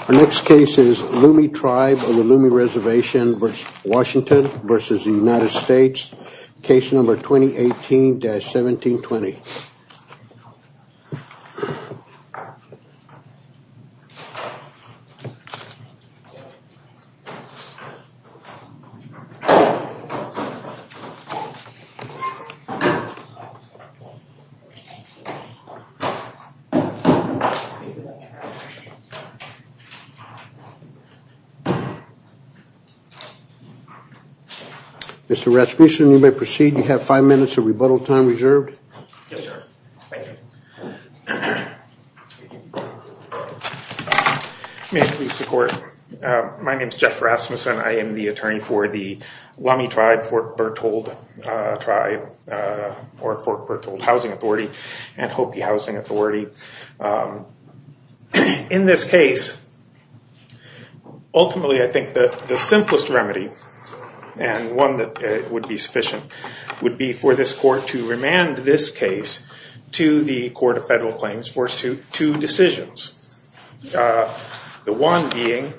Our next case is Lumi Tribe on the Lumi Reservation v. Washington v. United States, case number Mr. Rasmussen, you may proceed. You have five minutes of rebuttal time reserved. May I please report? My name is Jeff Rasmussen. I am the attorney for the Lumi Tribe, Fort and Hopi Housing Authority. In this case, ultimately I think the simplest remedy, and one that would be sufficient, would be for this court to remand this case to the Court of Federal Claims for two decisions. The one being,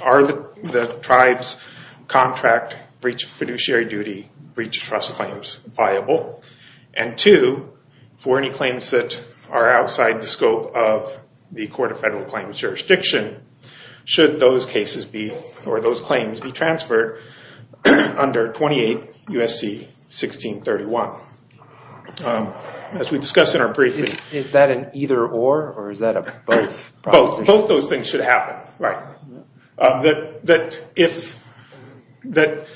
are the tribe's contract fiduciary duty breach of trust claims viable? And two, for any claims that are outside the scope of the Court of Federal Claims jurisdiction, should those cases be, or those claims be transferred under 28 U.S.C. 1631. As we discussed in our briefing. Is that an either or or is it both? Both those things should happen.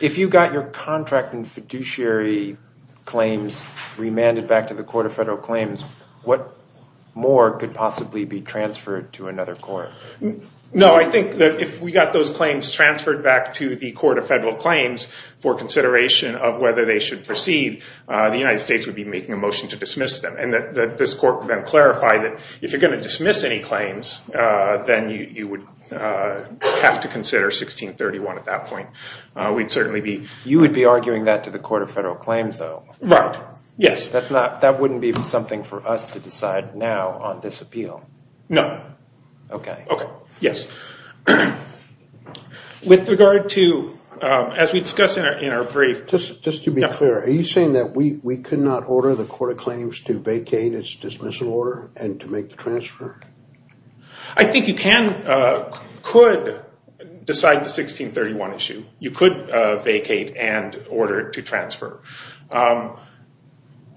If you got your contract and fiduciary claims remanded back to the Court of Federal Claims, what more could possibly be transferred to another court? No, I think that if we got those claims transferred back to the Court of Federal Claims for consideration of whether they should proceed, the United States would be making a motion to dismiss them. And that this court would then clarify that if you're going to dismiss any claims, then you would have to consider 1631 at that point. We'd certainly be. You would be arguing that to the Court of Federal Claims though? Right, yes. That's not, that wouldn't be something for us to decide now on this appeal? No. Okay. Okay, yes. With regard to, as we discussed in our brief. Just to be clear, are you saying that we could not order the Court of Claims to vacate its dismissal order and to make the transfer? I think you can, could decide the 1631 issue. You could vacate and order it to transfer.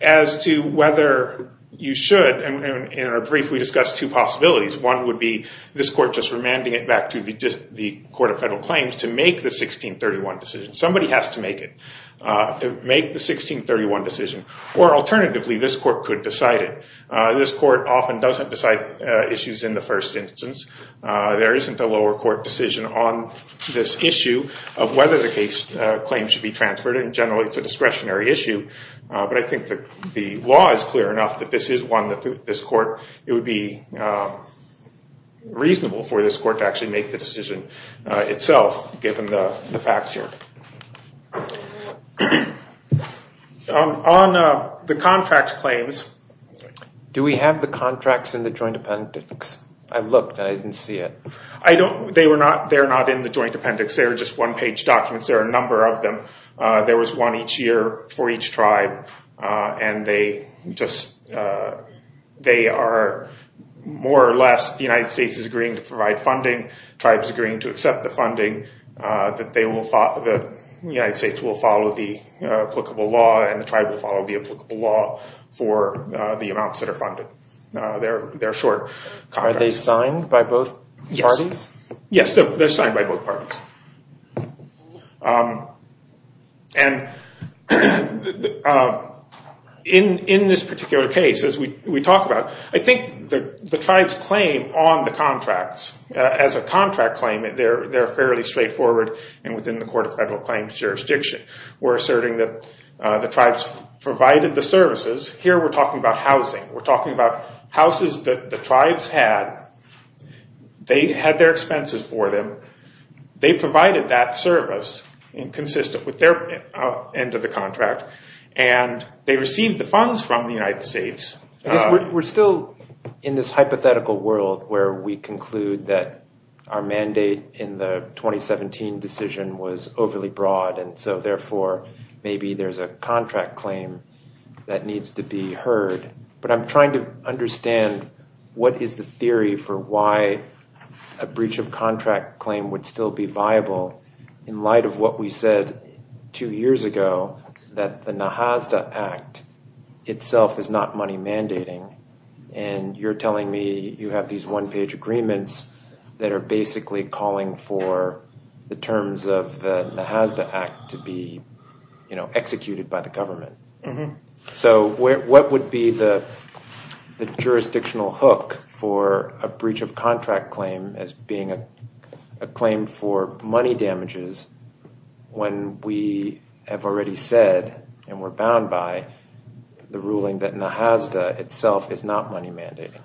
As to whether you should, in our brief we discussed two possibilities. One would be this court just remanding it back to the Court of Federal Claims to make the 1631 decision. Somebody has to make it. Make the 1631 decision. Or alternatively, this court could decide it. This court often doesn't decide issues in the first instance. There isn't a lower court decision on this issue of whether the case claim should be transferred. In general, it's a discretionary issue. But I think the law is clear enough that this is one that this court, it would be reasonable for this court to actually make the decision itself, given the facts here. On the contract claims. Do we have the contracts in the Joint Appendix? I looked and I didn't see it. I don't, they were not, they're not in the Joint Appendix. They're just one page documents. There are a number of them. There was one each year for each tribe. And they just, they are more or less, the United States is agreeing to provide funding. Tribes agreeing to accept the funding. The United States will follow the applicable law and the tribe will follow the applicable law for the amounts that are funded. They're short contracts. Are they signed by both parties? Yes, they're signed by both parties. And in this particular case, as we talk about, I think the tribe's claim on the contracts, as a contract claim, they're fairly straightforward and within the Court of Federal Claims jurisdiction. We're asserting that the tribes provided the services. Here we're talking about housing. We're talking about houses that the tribes had. They had their expenses for them. They provided that service consistent with their end of the contract. And they received the funds from the United States. We're still in this hypothetical world where we conclude that our mandate in the 2017 decision was overly broad. And so therefore, maybe there's a contract claim that needs to be heard. But I'm trying to understand what is the theory for why a breach of contract claim would still be viable in light of what we said two years ago, that the Nahasda Act itself is not money mandating. And you're telling me you have these one-page agreements that are basically calling for the terms of the Nahasda Act to be executed by the government. So what would be the jurisdictional hook for a breach of contract claim as being a claim for money damages when we have already said and we're bound by the ruling that Nahasda itself is not money mandating?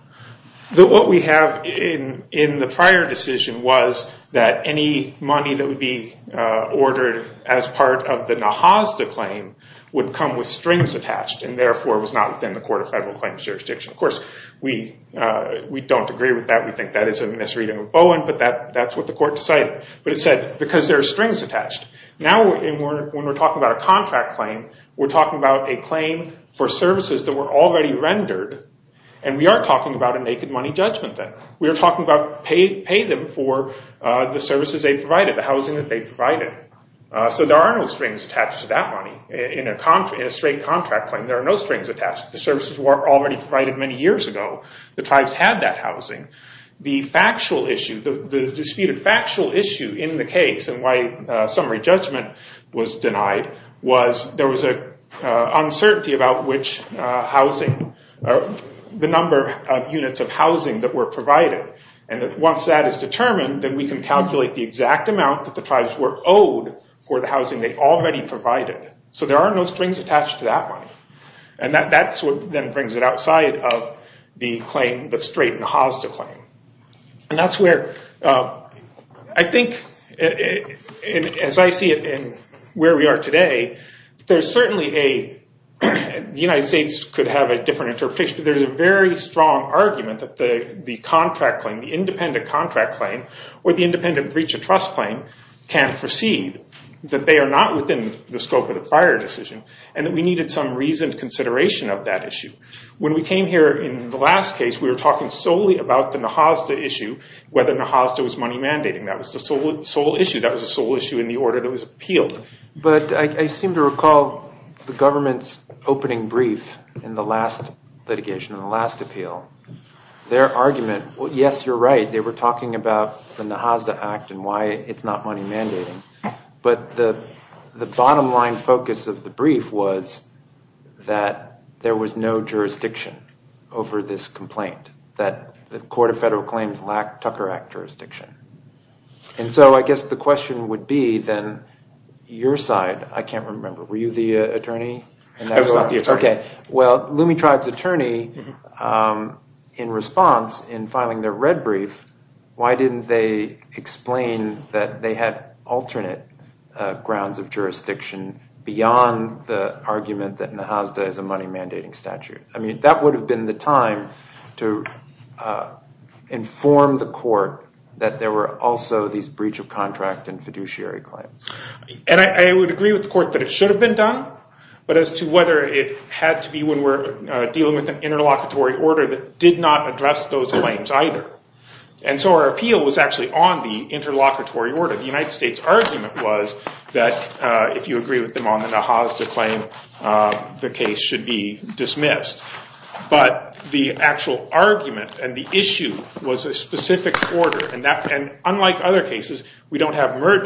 What we have in the prior decision was that any money that would be ordered as part of the Nahasda claim would come with strings attached and therefore was not within the Court of Federal Claims jurisdiction. Of course, we don't agree with that. We think that is a misreading of Bowen, but that's what the court decided. But it said, because there are strings attached. Now when we're talking about a contract claim, we're talking about a claim for services that were already rendered. And we aren't talking about a naked money judgment then. We are talking about pay them for the services they provided, the housing that they provided. So there are no strings attached to that money. In a straight contract claim, there are no strings attached. The services were already provided many years ago. The tribes had that factual issue, the disputed factual issue in the case and why summary judgment was denied was there was an uncertainty about which housing, the number of units of housing that were provided. And once that is determined, then we can calculate the exact amount that the tribes were owed for the housing they already provided. So there are no strings attached to that money. And that's what then brings it outside of the claim, the straight and hosta claim. And that's where, I think, as I see it in where we are today, there's certainly a, the United States could have a different interpretation, but there's a very strong argument that the contract claim, the independent contract claim, or the independent breach of trust claim can't scope of the fire decision and that we needed some reasoned consideration of that issue. When we came here in the last case, we were talking solely about the NAHASDA issue, whether NAHASDA was money mandating. That was the sole issue. That was the sole issue in the order that was appealed. But I seem to recall the government's opening brief in the last litigation, in the last appeal, their argument, well, yes, you're right. They were talking about the NAHASDA Act and why it's not money mandating. But the bottom line focus of the brief was that there was no jurisdiction over this complaint, that the Court of Federal Claims lacked Tucker Act jurisdiction. And so I guess the question would be then, your side, I can't remember, were you the attorney? I was not the attorney. Well, Lume Tribe's attorney, in response, in filing their red brief, why didn't they explain that they had alternate grounds of jurisdiction beyond the argument that NAHASDA is a money mandating statute? I mean, that would have been the time to inform the Court that there were also these breach of contract and fiduciary claims. And I would agree with the Court that it should have been done, but as to whether it had to be when we're dealing with an interlocutory order that did not address those claims either. And so our appeal was actually on the interlocutory order. The United States argument was that if you agree with them on the NAHASDA claim, the case should be dismissed. But the actual argument and the issue was a specific order. And unlike other cases, we sort of have a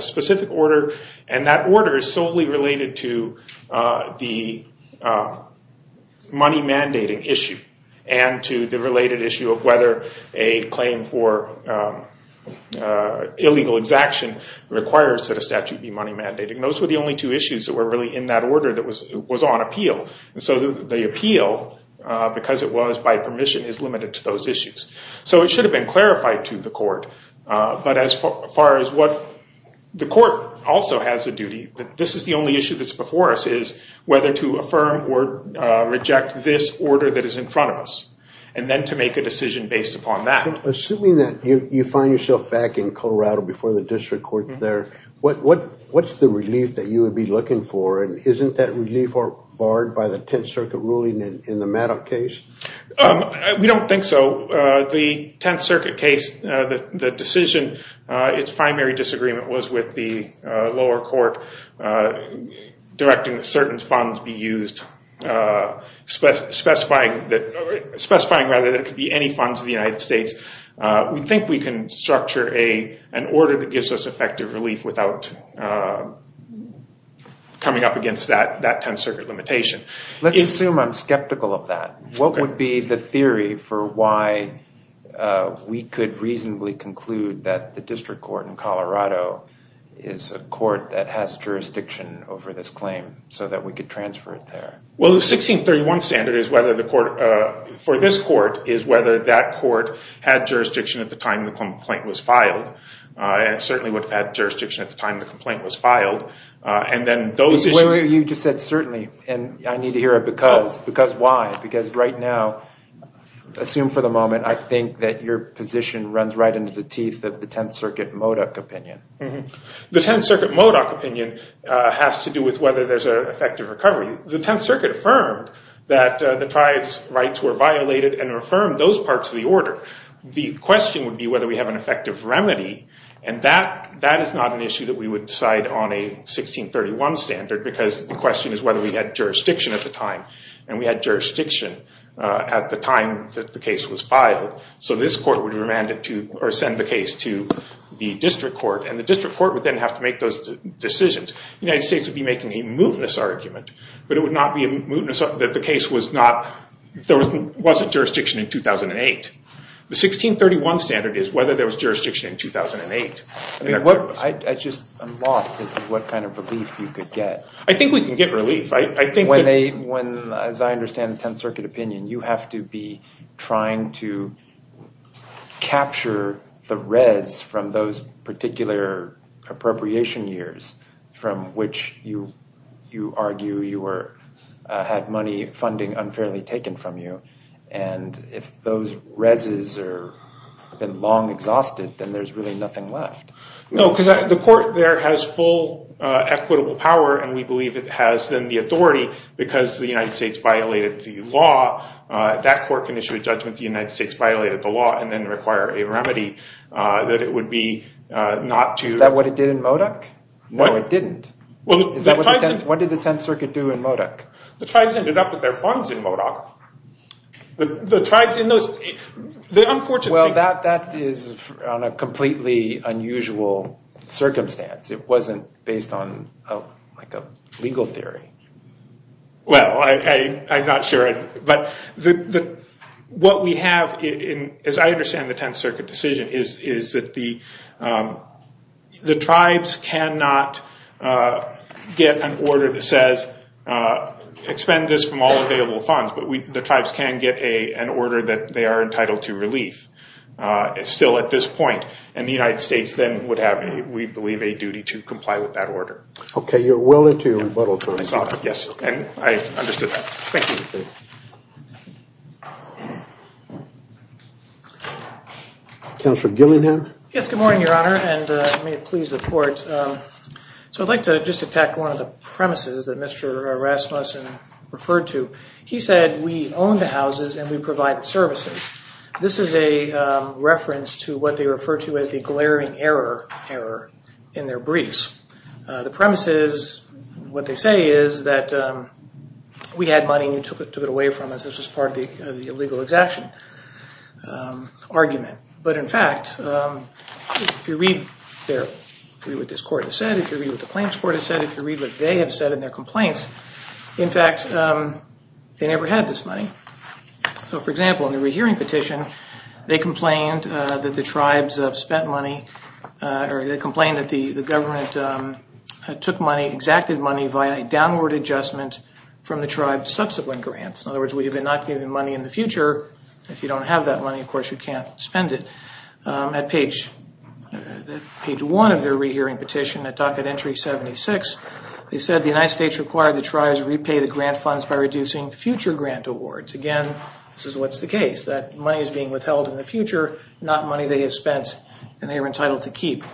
specific order, and that order is solely related to the money mandating issue and to the related issue of whether a claim for illegal exaction requires that a statute be money mandating. Those were the only two issues that were really in that order that was on appeal. And so the appeal, because it was by permission, is limited to those issues. So it should have been clarified to the Court. But as far as what the Court also has a duty, this is the only issue that's before us is whether to affirm or reject this order that is in front of us, and then to make a decision based upon that. Assuming that you find yourself back in Colorado before the district court there, what's the relief that you would be looking for? And isn't that relief barred by the Tenth Circuit ruling in the Maddox case? We don't think so. The Tenth Circuit case, the decision, its primary disagreement was with the lower court directing that certain funds be used, specifying that it could be any funds in the United States. We think we can structure an order that gives us effective relief without coming up against that Tenth Circuit limitation. Let's assume I'm skeptical of that. What would be the theory for why we could reasonably conclude that the district court in Colorado is a court that has jurisdiction over this claim so that we could transfer it there? Well, the 1631 standard is whether the court, for this court, is whether that court had jurisdiction at the time the complaint was filed. And it certainly would have had jurisdiction at the time the complaint was filed. And then those issues... You just said certainly, and I need to hear a because. Because why? Because right now, assume for the moment, I think that your position runs right into the teeth of the Tenth Circuit Modok opinion. The Tenth Circuit Modok opinion has to do with whether there's an effective recovery. The Tenth Circuit affirmed that the tribes' rights were violated and affirmed those parts of the order. The question would be whether we have an effective remedy. And that is not an issue that we would decide on a 1631 standard, because the question is whether we had jurisdiction at the time. And we had jurisdiction at the time that the case was filed. So this court would remand it to or send the case to the district court. And the district court would then have to make those decisions. The United States would be making a mootness argument, but it would not be a mootness that the case was not... There wasn't jurisdiction in 2008. The 1631 standard is whether there was jurisdiction in 2008. I just am lost as to what kind of relief you could get. I think we can get relief. When they... When, as I understand the Tenth Circuit opinion, you have to be trying to capture the res from those particular appropriation years from which you argue you had money funding unfairly taken from you. And if those res are long exhausted, then there's really nothing left. No, because the court there has full equitable power. And we believe it has then the authority because the United States violated the law. That court can issue a judgment the United States violated the law and then require a remedy that it would be not to... Is that what it did in Modoc? No, it didn't. What did the Tenth Circuit do in Modoc? The tribes ended up with their funds in Modoc. The tribes in those... Well, that is on a completely unusual circumstance. It wasn't based on like a legal theory. Well, I'm not sure. But what we have, as I understand the Tenth Circuit decision, is that the tribes cannot get an order that says, expend this from all available funds. But the tribes can get an order that they are entitled to relief. It's still at this point. And the United States then would have, we believe, a duty to comply with that order. Okay, you're willing to... Yes, and I understood that. Thank you. Counselor Gillingham? Yes, good morning, Your Honor. And may it please the court. So I'd like to just attack one of the premises that Mr. Rasmussen referred to. He said, we own the houses and we provide services. This is a reference to what they refer to as the glaring error in their briefs. The premises, what they say is that we had money and you took it away from us. This was part of the illegal exaction argument. But in fact, if you read what this court has said, if you read what the claims court has said, if you read what they have said in their complaints, in fact, they never had this money. So for example, in the rehearing petition, they complained that the tribes have spent money or they complained that the government took money, exacted money via a downward adjustment from the tribe's subsequent grants. In other words, we have been not giving money in the future. If you don't have that money, of course, you can't spend it. At page one of their rehearing petition, at docket entry 76, they said the United States required the tribes repay the grant funds by reducing future grant awards. Again, this is what's the case, that money is being withheld in the future, not money they have spent and they are entitled to keep.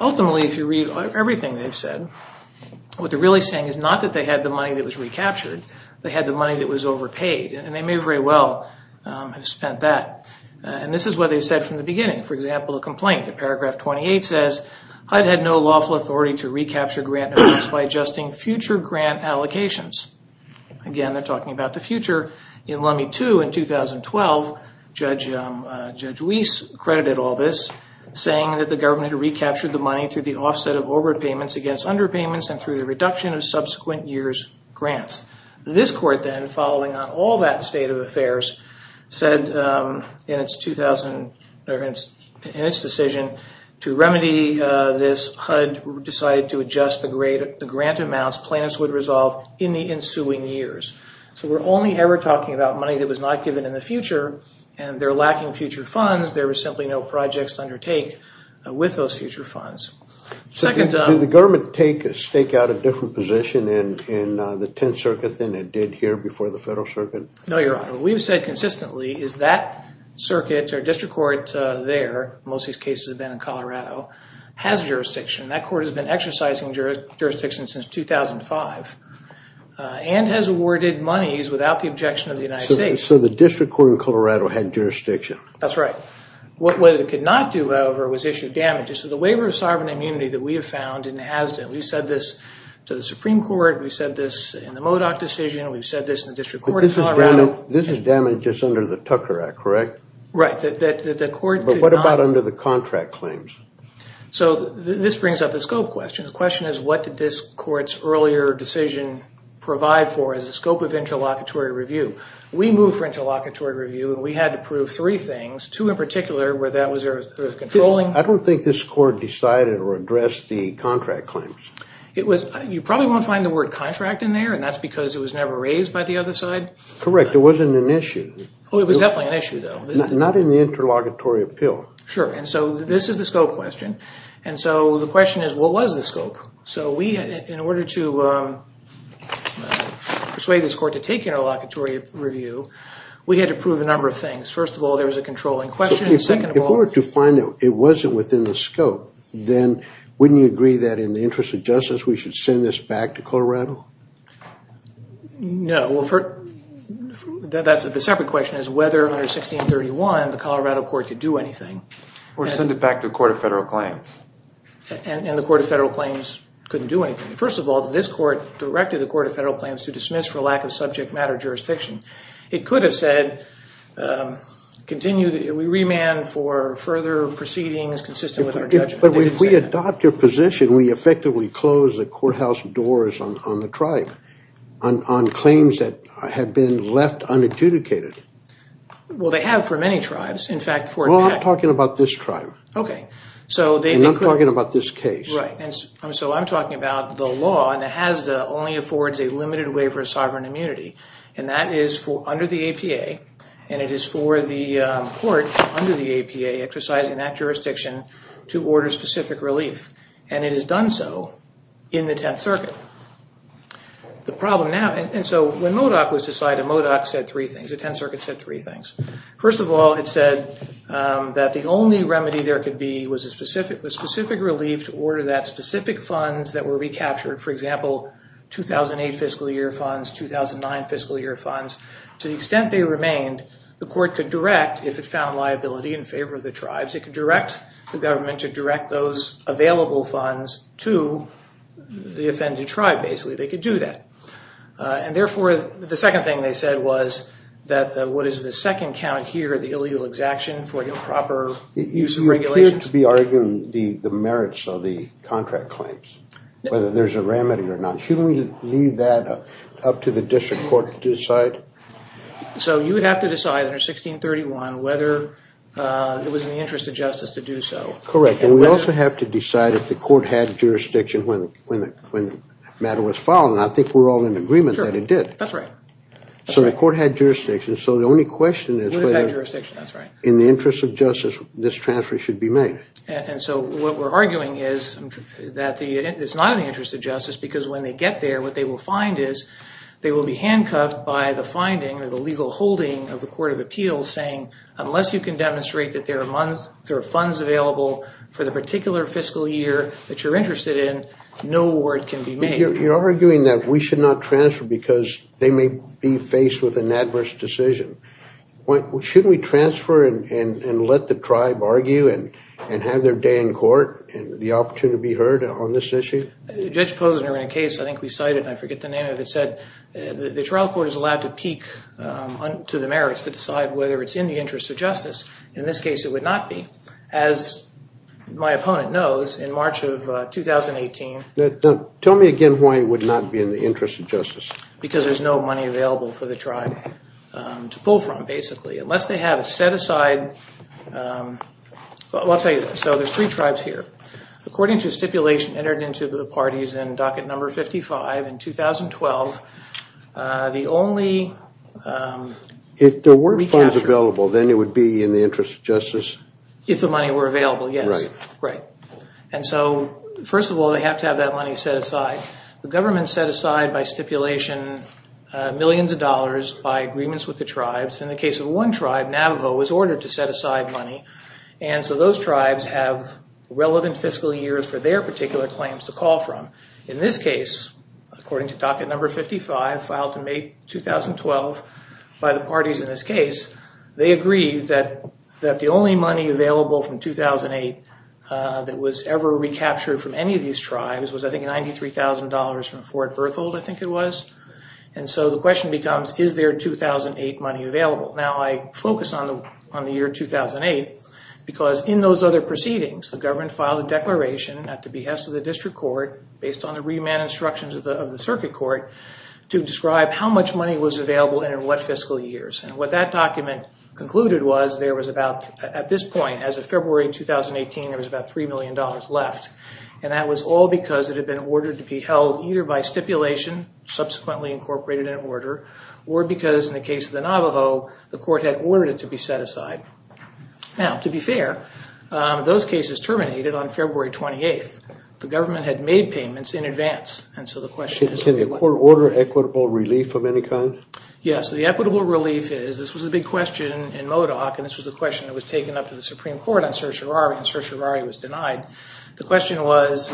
Ultimately, if you read everything they've said, what they're really saying is not that they had the money that was recaptured, they had the money that was overpaid and they may very well have spent that. And this is what they said from the beginning. For example, the complaint in paragraph 28 says, HUD had no lawful authority to recapture grant awards by adjusting future grant allocations. Again, they're talking about the future. In Lummi 2 in 2012, Judge Weiss credited all this, saying that the government recaptured the money through the offset of overpayments against underpayments and through the reduction of subsequent years' grants. This court then, following on all that state of affairs, said in its decision to remedy this, HUD decided to adjust the grant amounts plaintiffs would resolve in the ensuing years. So we're only ever talking about money that was not given in the future and they're lacking future funds. There was simply no projects to undertake with those future funds. Second- Did the government stake out a different position in the Tenth Circuit than it did here before the Federal Circuit? No, Your Honor. What we've said consistently is that circuit or district court there, most of these cases have been in Colorado, has jurisdiction. That court has been exercising jurisdiction since 2005 and has awarded monies without the objection of the United States. So the district court in Colorado had jurisdiction? That's right. What it could not do, however, was issue damages. So the waiver of sovereign immunity that we have found in Hazden, we've said this to the Supreme Court, we've said this in the Modoc decision, we've said this in the district court in Colorado- This is damages under the Tucker Act, correct? Right, that the court- But what about under the contract claims? So this brings up the scope question. The question is, what did this court's earlier decision provide for as a scope of interlocutory review? We moved for interlocutory review and we had to prove three things, two in particular where that was controlling- I don't think this court decided or addressed the contract claims. You probably won't find the word contract in there and that's because it was never raised by the other side? Correct, it wasn't an issue. Oh, it was definitely an issue though. Not in the interlocutory appeal. Sure, and so this is the scope question. And so the question is, what was the scope? So we, in order to persuade this court to take interlocutory review, we had to prove a number of things. First of all, there was a controlling question- So if we were to find that it wasn't within the scope, then wouldn't you agree that in the interest of justice, we should send this back to Colorado? No, that's a separate question as whether under 1631 the Colorado court could do anything. Or send it back to the Court of Federal Claims. And the Court of Federal Claims couldn't do anything. First of all, this court directed the Court of Federal Claims to dismiss for lack of subject matter jurisdiction. It could have said, we remand for further proceedings consistent with our judgment. But if we adopt your position, we effectively close the courthouse doors on the tribe on claims that have been left unadjudicated. Well, they have for many tribes. In fact, for- Well, I'm talking about this tribe. Okay. So they- And I'm talking about this case. Right. And so I'm talking about the law. And it has only affords a limited waiver of sovereign immunity. And that is for under the APA. And it is for the court under the APA exercising that jurisdiction to order specific relief. And it has done so in the Tenth Circuit. The problem now, and so when MODOC was decided, MODOC said three things. The Tenth Circuit said three things. First of all, it said that the only remedy there could be was a specific- the specific relief to order that specific funds that were recaptured. For example, 2008 fiscal year funds, 2009 fiscal year funds. To the extent they remained, the court could direct if it found liability in favor of the tribes. It could direct the government to direct those available funds to the offended tribe, basically. They could do that. And therefore, the second thing they said was that what is the second count here, the illegal exaction for improper use of regulation. You appear to be arguing the merits of the contract claims. Whether there's a remedy or not. Shouldn't we leave that up to the district court to decide? So you would have to decide under 1631 whether it was in the interest of justice to do so. Correct. And we also have to decide if the court had jurisdiction when the matter was filed. And I think we're all in agreement that it did. That's right. So the court had jurisdiction. So the only question is- Would have had jurisdiction, that's right. In the interest of justice, this transfer should be made. And so what we're arguing is that the- it's not in the interest of justice because when they get there, what they will find is they will be handcuffed by the finding or the legal holding of the Court of Appeals saying unless you can demonstrate that there are funds available for the particular fiscal year that you're interested in, no award can be made. You're arguing that we should not transfer because they may be faced with an adverse decision. Shouldn't we transfer and let the tribe argue and have their day in court and the opportunity to be heard on this issue? Judge Posner, in a case I think we cited, and I forget the name of it, said the trial court is allowed to peek to the merits to decide whether it's in the interest of justice. In this case, it would not be. As my opponent knows, in March of 2018- Tell me again why it would not be in the interest of justice. Because there's no money available for the tribe to pull from, basically. Unless they have a set aside- I'll tell you this. So there's three tribes here. According to stipulation entered into the parties in docket number 55 in 2012, the only- If there were funds available, then it would be in the interest of justice? If the money were available, yes. Right. Right. First of all, they have to have that money set aside. The government set aside by stipulation millions of dollars by agreements with the tribes. In the case of one tribe, Navajo was ordered to set aside money. So those tribes have relevant fiscal years for their particular claims to call from. In this case, according to docket number 55, filed in May 2012 by the parties in this case, they agreed that the only money available from 2008 that was ever recaptured from any of these tribes was, I think, $93,000 from Fort Berthold, I think it was. And so the question becomes, is there 2008 money available? Now, I focus on the year 2008 because in those other proceedings, the government filed a declaration at the behest of the district court based on the remand instructions of the circuit court to describe how much money was available and in what fiscal years. And what that document concluded was at this point, as of February 2018, there was about $3 million left. And that was all because it had been ordered to be held either by stipulation, subsequently incorporated in order, or because in the case of the Navajo, the court had ordered it to be set aside. Now, to be fair, those cases terminated on February 28th. The government had made payments in advance. And so the question is- Can the court order equitable relief of any kind? Yes, the equitable relief is, this was a big question in MODOC and this was a question that was taken up to the Supreme Court on Sir Charari and Sir Charari was denied. The question was,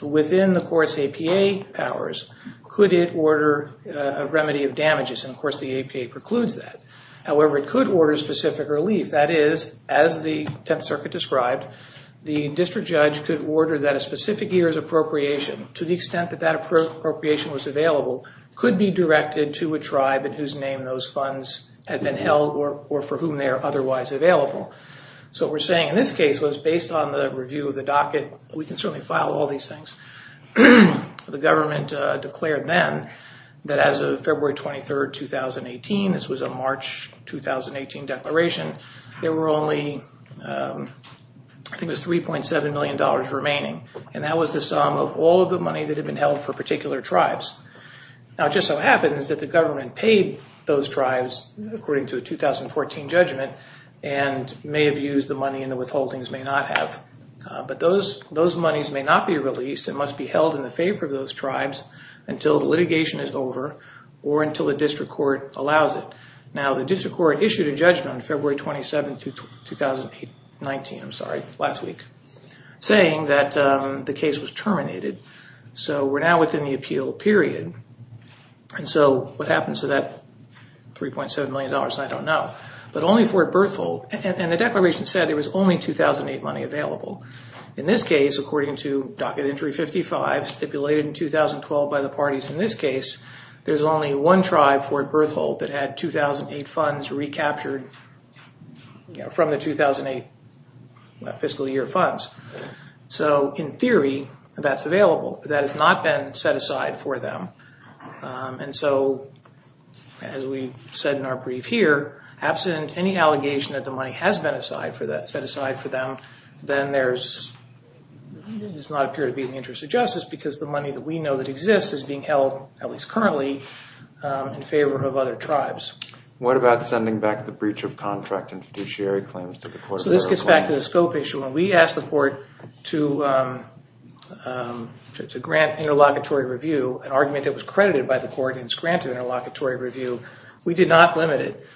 within the court's APA powers, could it order a remedy of damages? And of course, the APA precludes that. However, it could order specific relief. That is, as the 10th Circuit described, the district judge could order that a specific year's appropriation, to the extent that that appropriation was available, could be directed to a tribe in whose name those funds had been held or for whom they are otherwise available. So what we're saying in this case was, based on the review of the docket, we can certainly file all these things. The government declared then that as of February 23rd, 2018, this was a March 2018 declaration, there were only, I think it was $3.7 million remaining. And that was the sum of all of the money that had been held for particular tribes. Now, it just so happens that the government paid those tribes, according to a 2014 judgment, and may have used the money and the withholdings may not have. But those monies may not be released. It must be held in the favor of those tribes until the litigation is over or until the district court allows it. Now, the district court issued a judgment on February 27th, 2019, I'm sorry, last week, saying that the case was terminated. So we're now within the appeal period. And so what happens to that $3.7 million, I don't know. But only Fort Berthold, and the declaration said there was only 2008 money available. In this case, according to Docket Entry 55, stipulated in 2012 by the parties in this case, there's only one tribe, Fort Berthold, that had 2008 funds recaptured from the 2008 fiscal year funds. So in theory, that's available. That has not been set aside for them. And so, as we said in our brief here, absent any allegation that the money has been set aside for them, then there's, it does not appear to be in the interest of justice because the money that we know that exists is being held, at least currently, in favor of other tribes. What about sending back the breach of contract and fiduciary claims to the court? So this gets back to the scope issue. When we asked the court to grant interlocutory review, an argument that was credited by the court and is granted interlocutory review, we did not limit it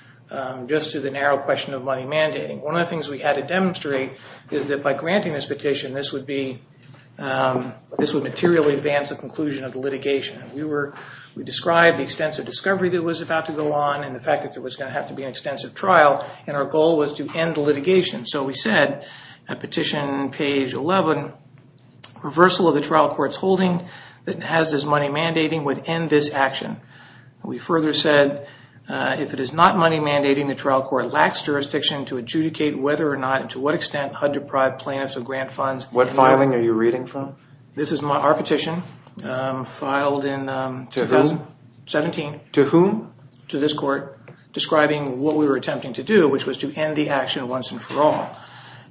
just to the narrow question of money mandating. One of the things we had to demonstrate is that by granting this petition, this would be, this would materially advance the conclusion of the litigation. We described the extensive discovery that was about to go on and the fact that there was gonna have to be an extensive trial, and our goal was to end the litigation. So we said, at petition page 11, reversal of the trial court's holding that Nehazda's money mandating would end this action. We further said, if it is not money mandating, the trial court lacks jurisdiction to adjudicate whether or not and to what extent HUD-deprived plaintiffs or grant funds. What filing are you reading from? This is our petition, filed in 2017. To whom? To this court, describing what we were attempting to do, which was to end the action once and for all.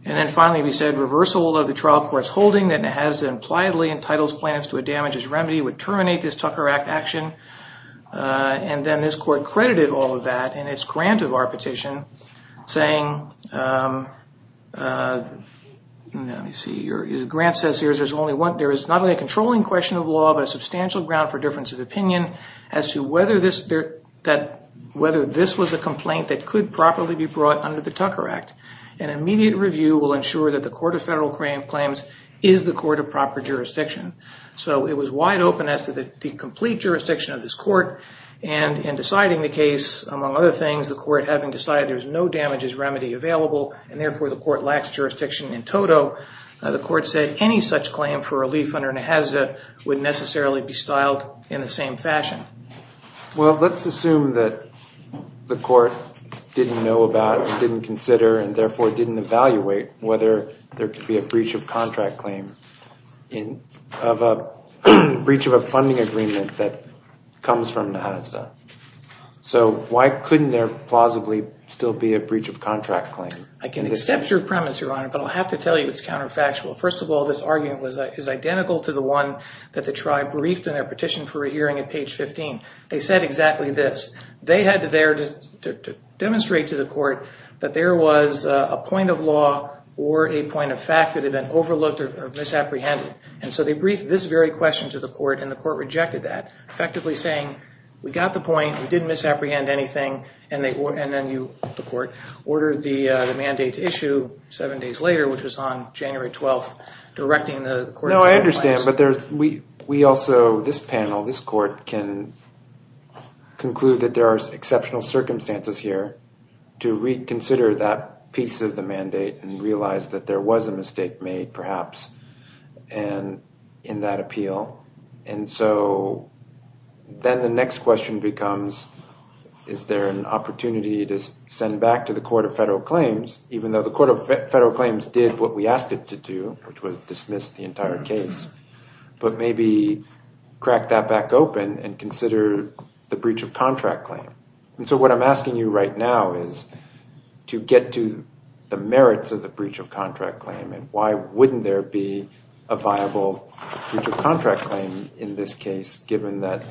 And then finally, we said, reversal of the trial court's holding that Nehazda impliedly entitles plaintiffs to a damages remedy would terminate this Tucker Act action. And then this court credited all of that in its grant of our petition, saying, let me see, your grant says here, there's only one, there is not only a controlling question of law, but a substantial ground for difference of opinion as to whether this was a complaint that could properly be brought under the Tucker Act. An immediate review will ensure that the court of federal claims is the court of proper jurisdiction. So it was wide open as to the complete jurisdiction of this court and in deciding the case, among other things, the court having decided there's no damages remedy available, and therefore the court lacks jurisdiction in toto, the court said any such claim for relief under Nehazda would necessarily be styled in the same fashion. Well, let's assume that the court didn't know about, didn't consider, and therefore didn't evaluate whether there could be a breach of contract claim in of a breach of a funding agreement that comes from Nehazda. So why couldn't there plausibly still be a breach of contract claim? I can accept your premise, your honor, but I'll have to tell you it's counterfactual. First of all, this argument was identical to the one that the tribe briefed in their petition for a hearing at page 15. They said exactly this. They had there to demonstrate to the court that there was a point of law or a point of fact that had been overlooked or misapprehended. And so they briefed this very question to the court and the court rejected that, effectively saying, we got the point, we didn't misapprehend anything, and then you, the court, ordered the mandate issue seven days later, which was on January 12th, directing the court. No, I understand, but we also, this panel, this court can conclude that there are exceptional circumstances here to reconsider that piece of the mandate and realize that there was a mistake made, perhaps, in that appeal. And so then the next question becomes, is there an opportunity to send back to the Court of Federal Claims, even though the Court of Federal Claims did what we asked it to do, which was dismiss the entire case, but maybe crack that back open the breach of contract claim. And so what I'm asking you right now is to get to the merits of the breach of contract claim, and why wouldn't there be a viable breach of contract claim in this case, given that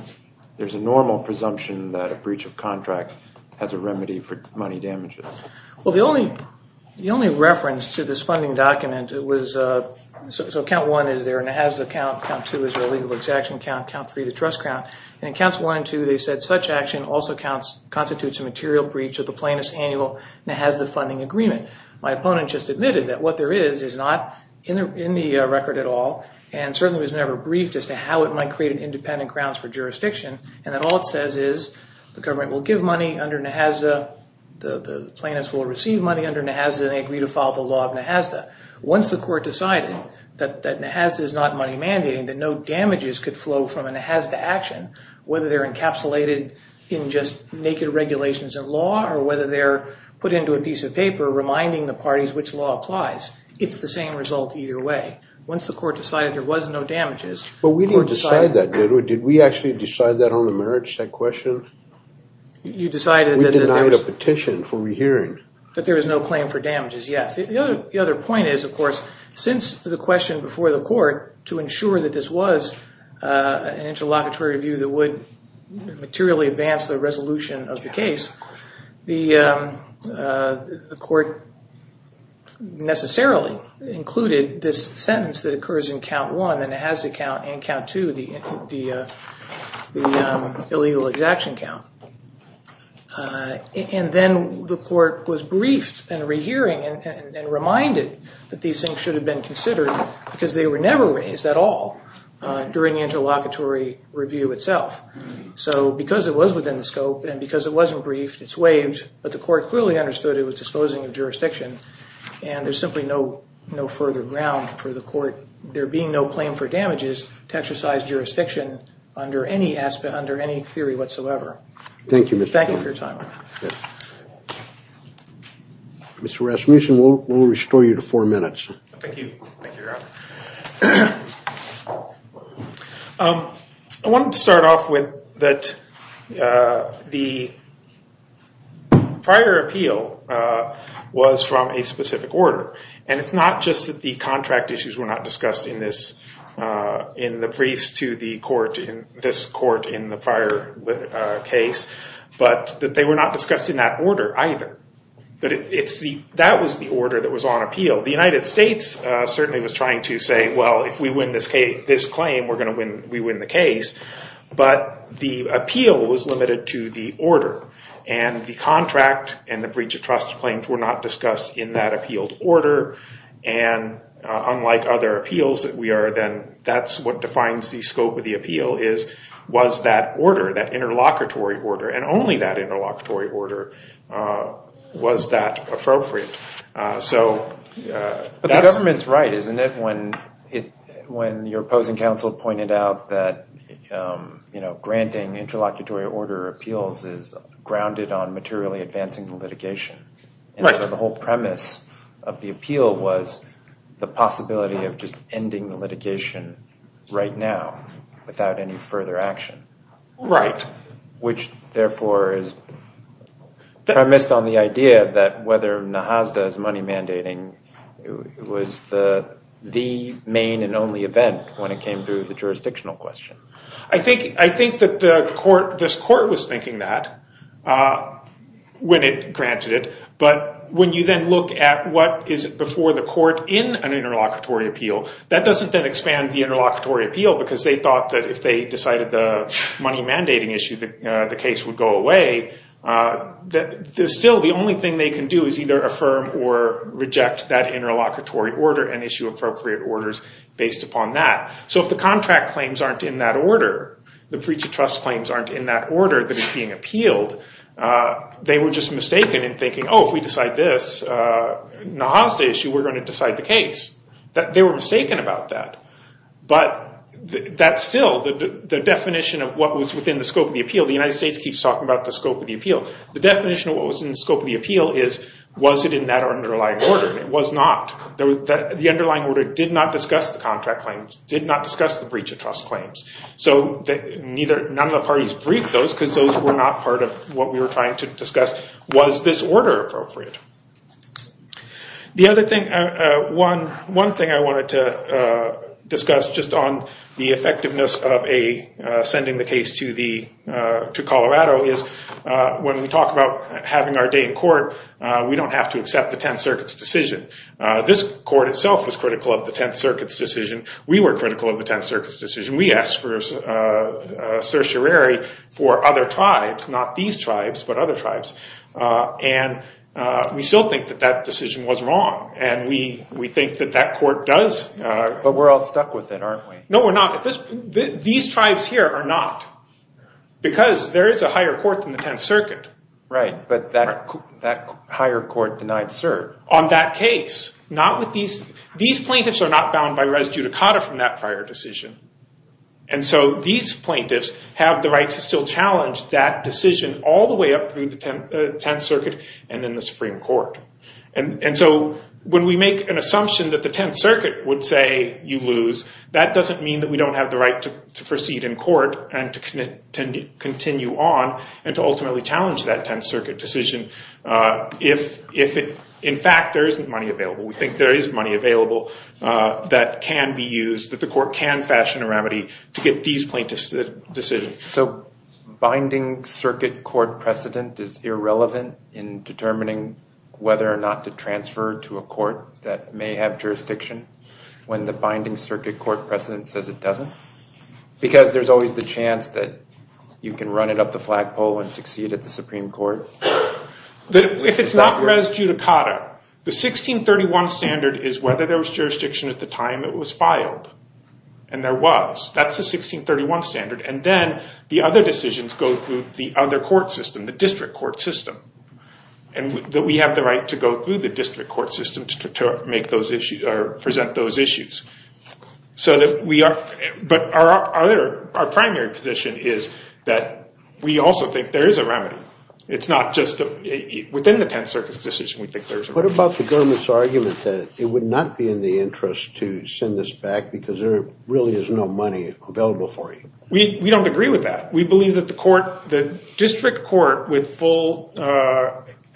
there's a normal presumption that a breach of contract has a remedy for money damages? Well, the only reference to this funding document, it was, so count one is there, and it has a count, count two is a legal exaction count, count three, the trust count. And in counts one and two, they said, such action also counts, constitutes a material breach of the plaintiff's annual NAHASDA funding agreement. My opponent just admitted that what there is, is not in the record at all, and certainly was never briefed as to how it might create an independent grounds for jurisdiction, and that all it says is, the government will give money under NAHASDA, the plaintiffs will receive money under NAHASDA, and they agree to follow the law of NAHASDA. Once the court decided that NAHASDA is not money mandating, that no damages could flow from a NAHASDA action, whether they're encapsulated in just naked regulations of law, or whether they're put into a piece of paper, reminding the parties which law applies, it's the same result either way. Once the court decided there was no damages, but we didn't decide that, did we? Did we actually decide that on the marriage set question? You decided that... We denied a petition for rehearing. That there was no claim for damages, yes. The other point is, of course, since the question before the court, to ensure that this was an interlocutory review that would materially advance the resolution of the case, the court necessarily included this sentence that occurs in count one, the NAHASDA count, and count two, the illegal exaction count. And then the court was briefed and rehearing and reminded that these things should have been considered because they were never raised at all during the interlocutory review itself. So because it was within the scope and because it wasn't briefed, it's waived, but the court clearly understood it was disposing of jurisdiction and there's simply no further ground for the court, there being no claim for damages to exercise jurisdiction under any aspect, under any theory whatsoever. Thank you for your time. Mr. Rasmussen, we'll restore you to four minutes. Thank you. I wanted to start off with that the prior appeal was from a specific order. And it's not just that the contract issues were not discussed in the briefs to this court in the prior case, but that they were not discussed in that order either. But that was the order that was on appeal. The United States certainly was trying to say, well, if we win this claim, we're going to win the case. But the appeal was limited to the order and the contract and the breach of trust claims were not discussed in that appealed order. And unlike other appeals that we are then, that's what defines the scope of the appeal is was that order, that interlocutory order, and only that interlocutory order was that appropriate. So... But the government's right, isn't it? When your opposing counsel pointed out that, you know, granting interlocutory order appeals is grounded on materially advancing the litigation. And so the whole premise of the appeal was the possibility of just ending the litigation right now without any further action. Right. Which, therefore, is premised on the idea that whether NAHASDA is money mandating was the main and only event when it came to the jurisdictional question. I think that the court, this court was thinking that when it granted it. But when you then look at what is before the court in an interlocutory appeal, that doesn't then expand the interlocutory appeal because they thought that if they decided the money mandating issue, the case would go away. That there's still the only thing they can do is either affirm or reject that interlocutory order and issue appropriate orders based upon that. So if the contract claims aren't in that order, the breach of trust claims aren't in that order that is being appealed, they were just mistaken in thinking, oh, if we decide this NAHASDA issue, we're going to decide the case. They were mistaken about that. But that's still the definition of what was within the scope of the appeal. The United States keeps talking about the scope of the appeal. The definition of what was in the scope of the appeal is was it in that underlying order? It was not. The underlying order did not discuss the contract claims, did not discuss the breach of trust claims. So none of the parties briefed those because those were not part of what we were trying to discuss. Was this order appropriate? The other thing, one thing I wanted to discuss just on the effectiveness of sending the case to Colorado is when we talk about having our day in court, we don't have to accept the 10th Circuit's decision. This court itself was critical of the 10th Circuit's decision. We were critical of the 10th Circuit's decision. We asked for a certiorari for other tribes, not these tribes, but other tribes. And we still think that that decision was wrong. And we think that that court does. But we're all stuck with it, aren't we? No, we're not. These tribes here are not because there is a higher court than the 10th Circuit. Right. But that higher court denied cert. On that case. Not with these. These plaintiffs are not bound by res judicata from that prior decision. And so these plaintiffs have the right to still challenge that decision all the way up through the 10th Circuit and then the Supreme Court. And so when we make an assumption that the 10th Circuit would say you lose, that doesn't mean that we don't have the right to proceed in court and to continue on and to ultimately challenge that 10th Circuit decision if, in fact, there isn't money available. We think there is money available that can be used, that the court can fashion a remedy to get these plaintiffs' decisions. So binding circuit court precedent is irrelevant in determining whether or not to transfer to a court that may have jurisdiction when the binding circuit court precedent says it doesn't? Because there's always the chance that you can run it up the flagpole and succeed at the Supreme Court. If it's not res judicata, the 1631 standard is whether there was jurisdiction at the time it was filed. And there was. That's the 1631 standard. And then the other decisions go through the other court system, the district court system, and that we have the right to go through the district court system to present those issues. But our primary position is that we also think there is a remedy. It's not just within the 10th Circuit's decision What about the government's argument that it would not be in the interest to send this back because there really is no money available for you? We don't agree with that. We believe that the district court with full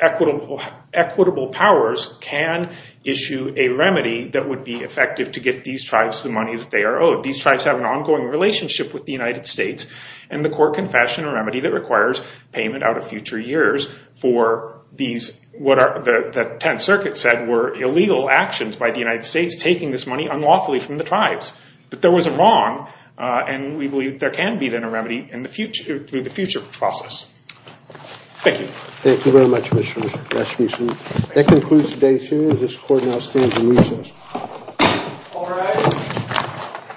equitable powers can issue a remedy that would be effective to get these tribes the money that they are owed. These tribes have an ongoing relationship with the United States and the court can fashion a remedy that requires payment out of future years for these, what the 10th Circuit said, were illegal actions by the United States taking this money unlawfully from the tribes. But there was a wrong and we believe there can be then a remedy in the future through the future process. Thank you. Thank you very much, Mr. Rasmussen. That concludes today's hearing. This court now stands in recess.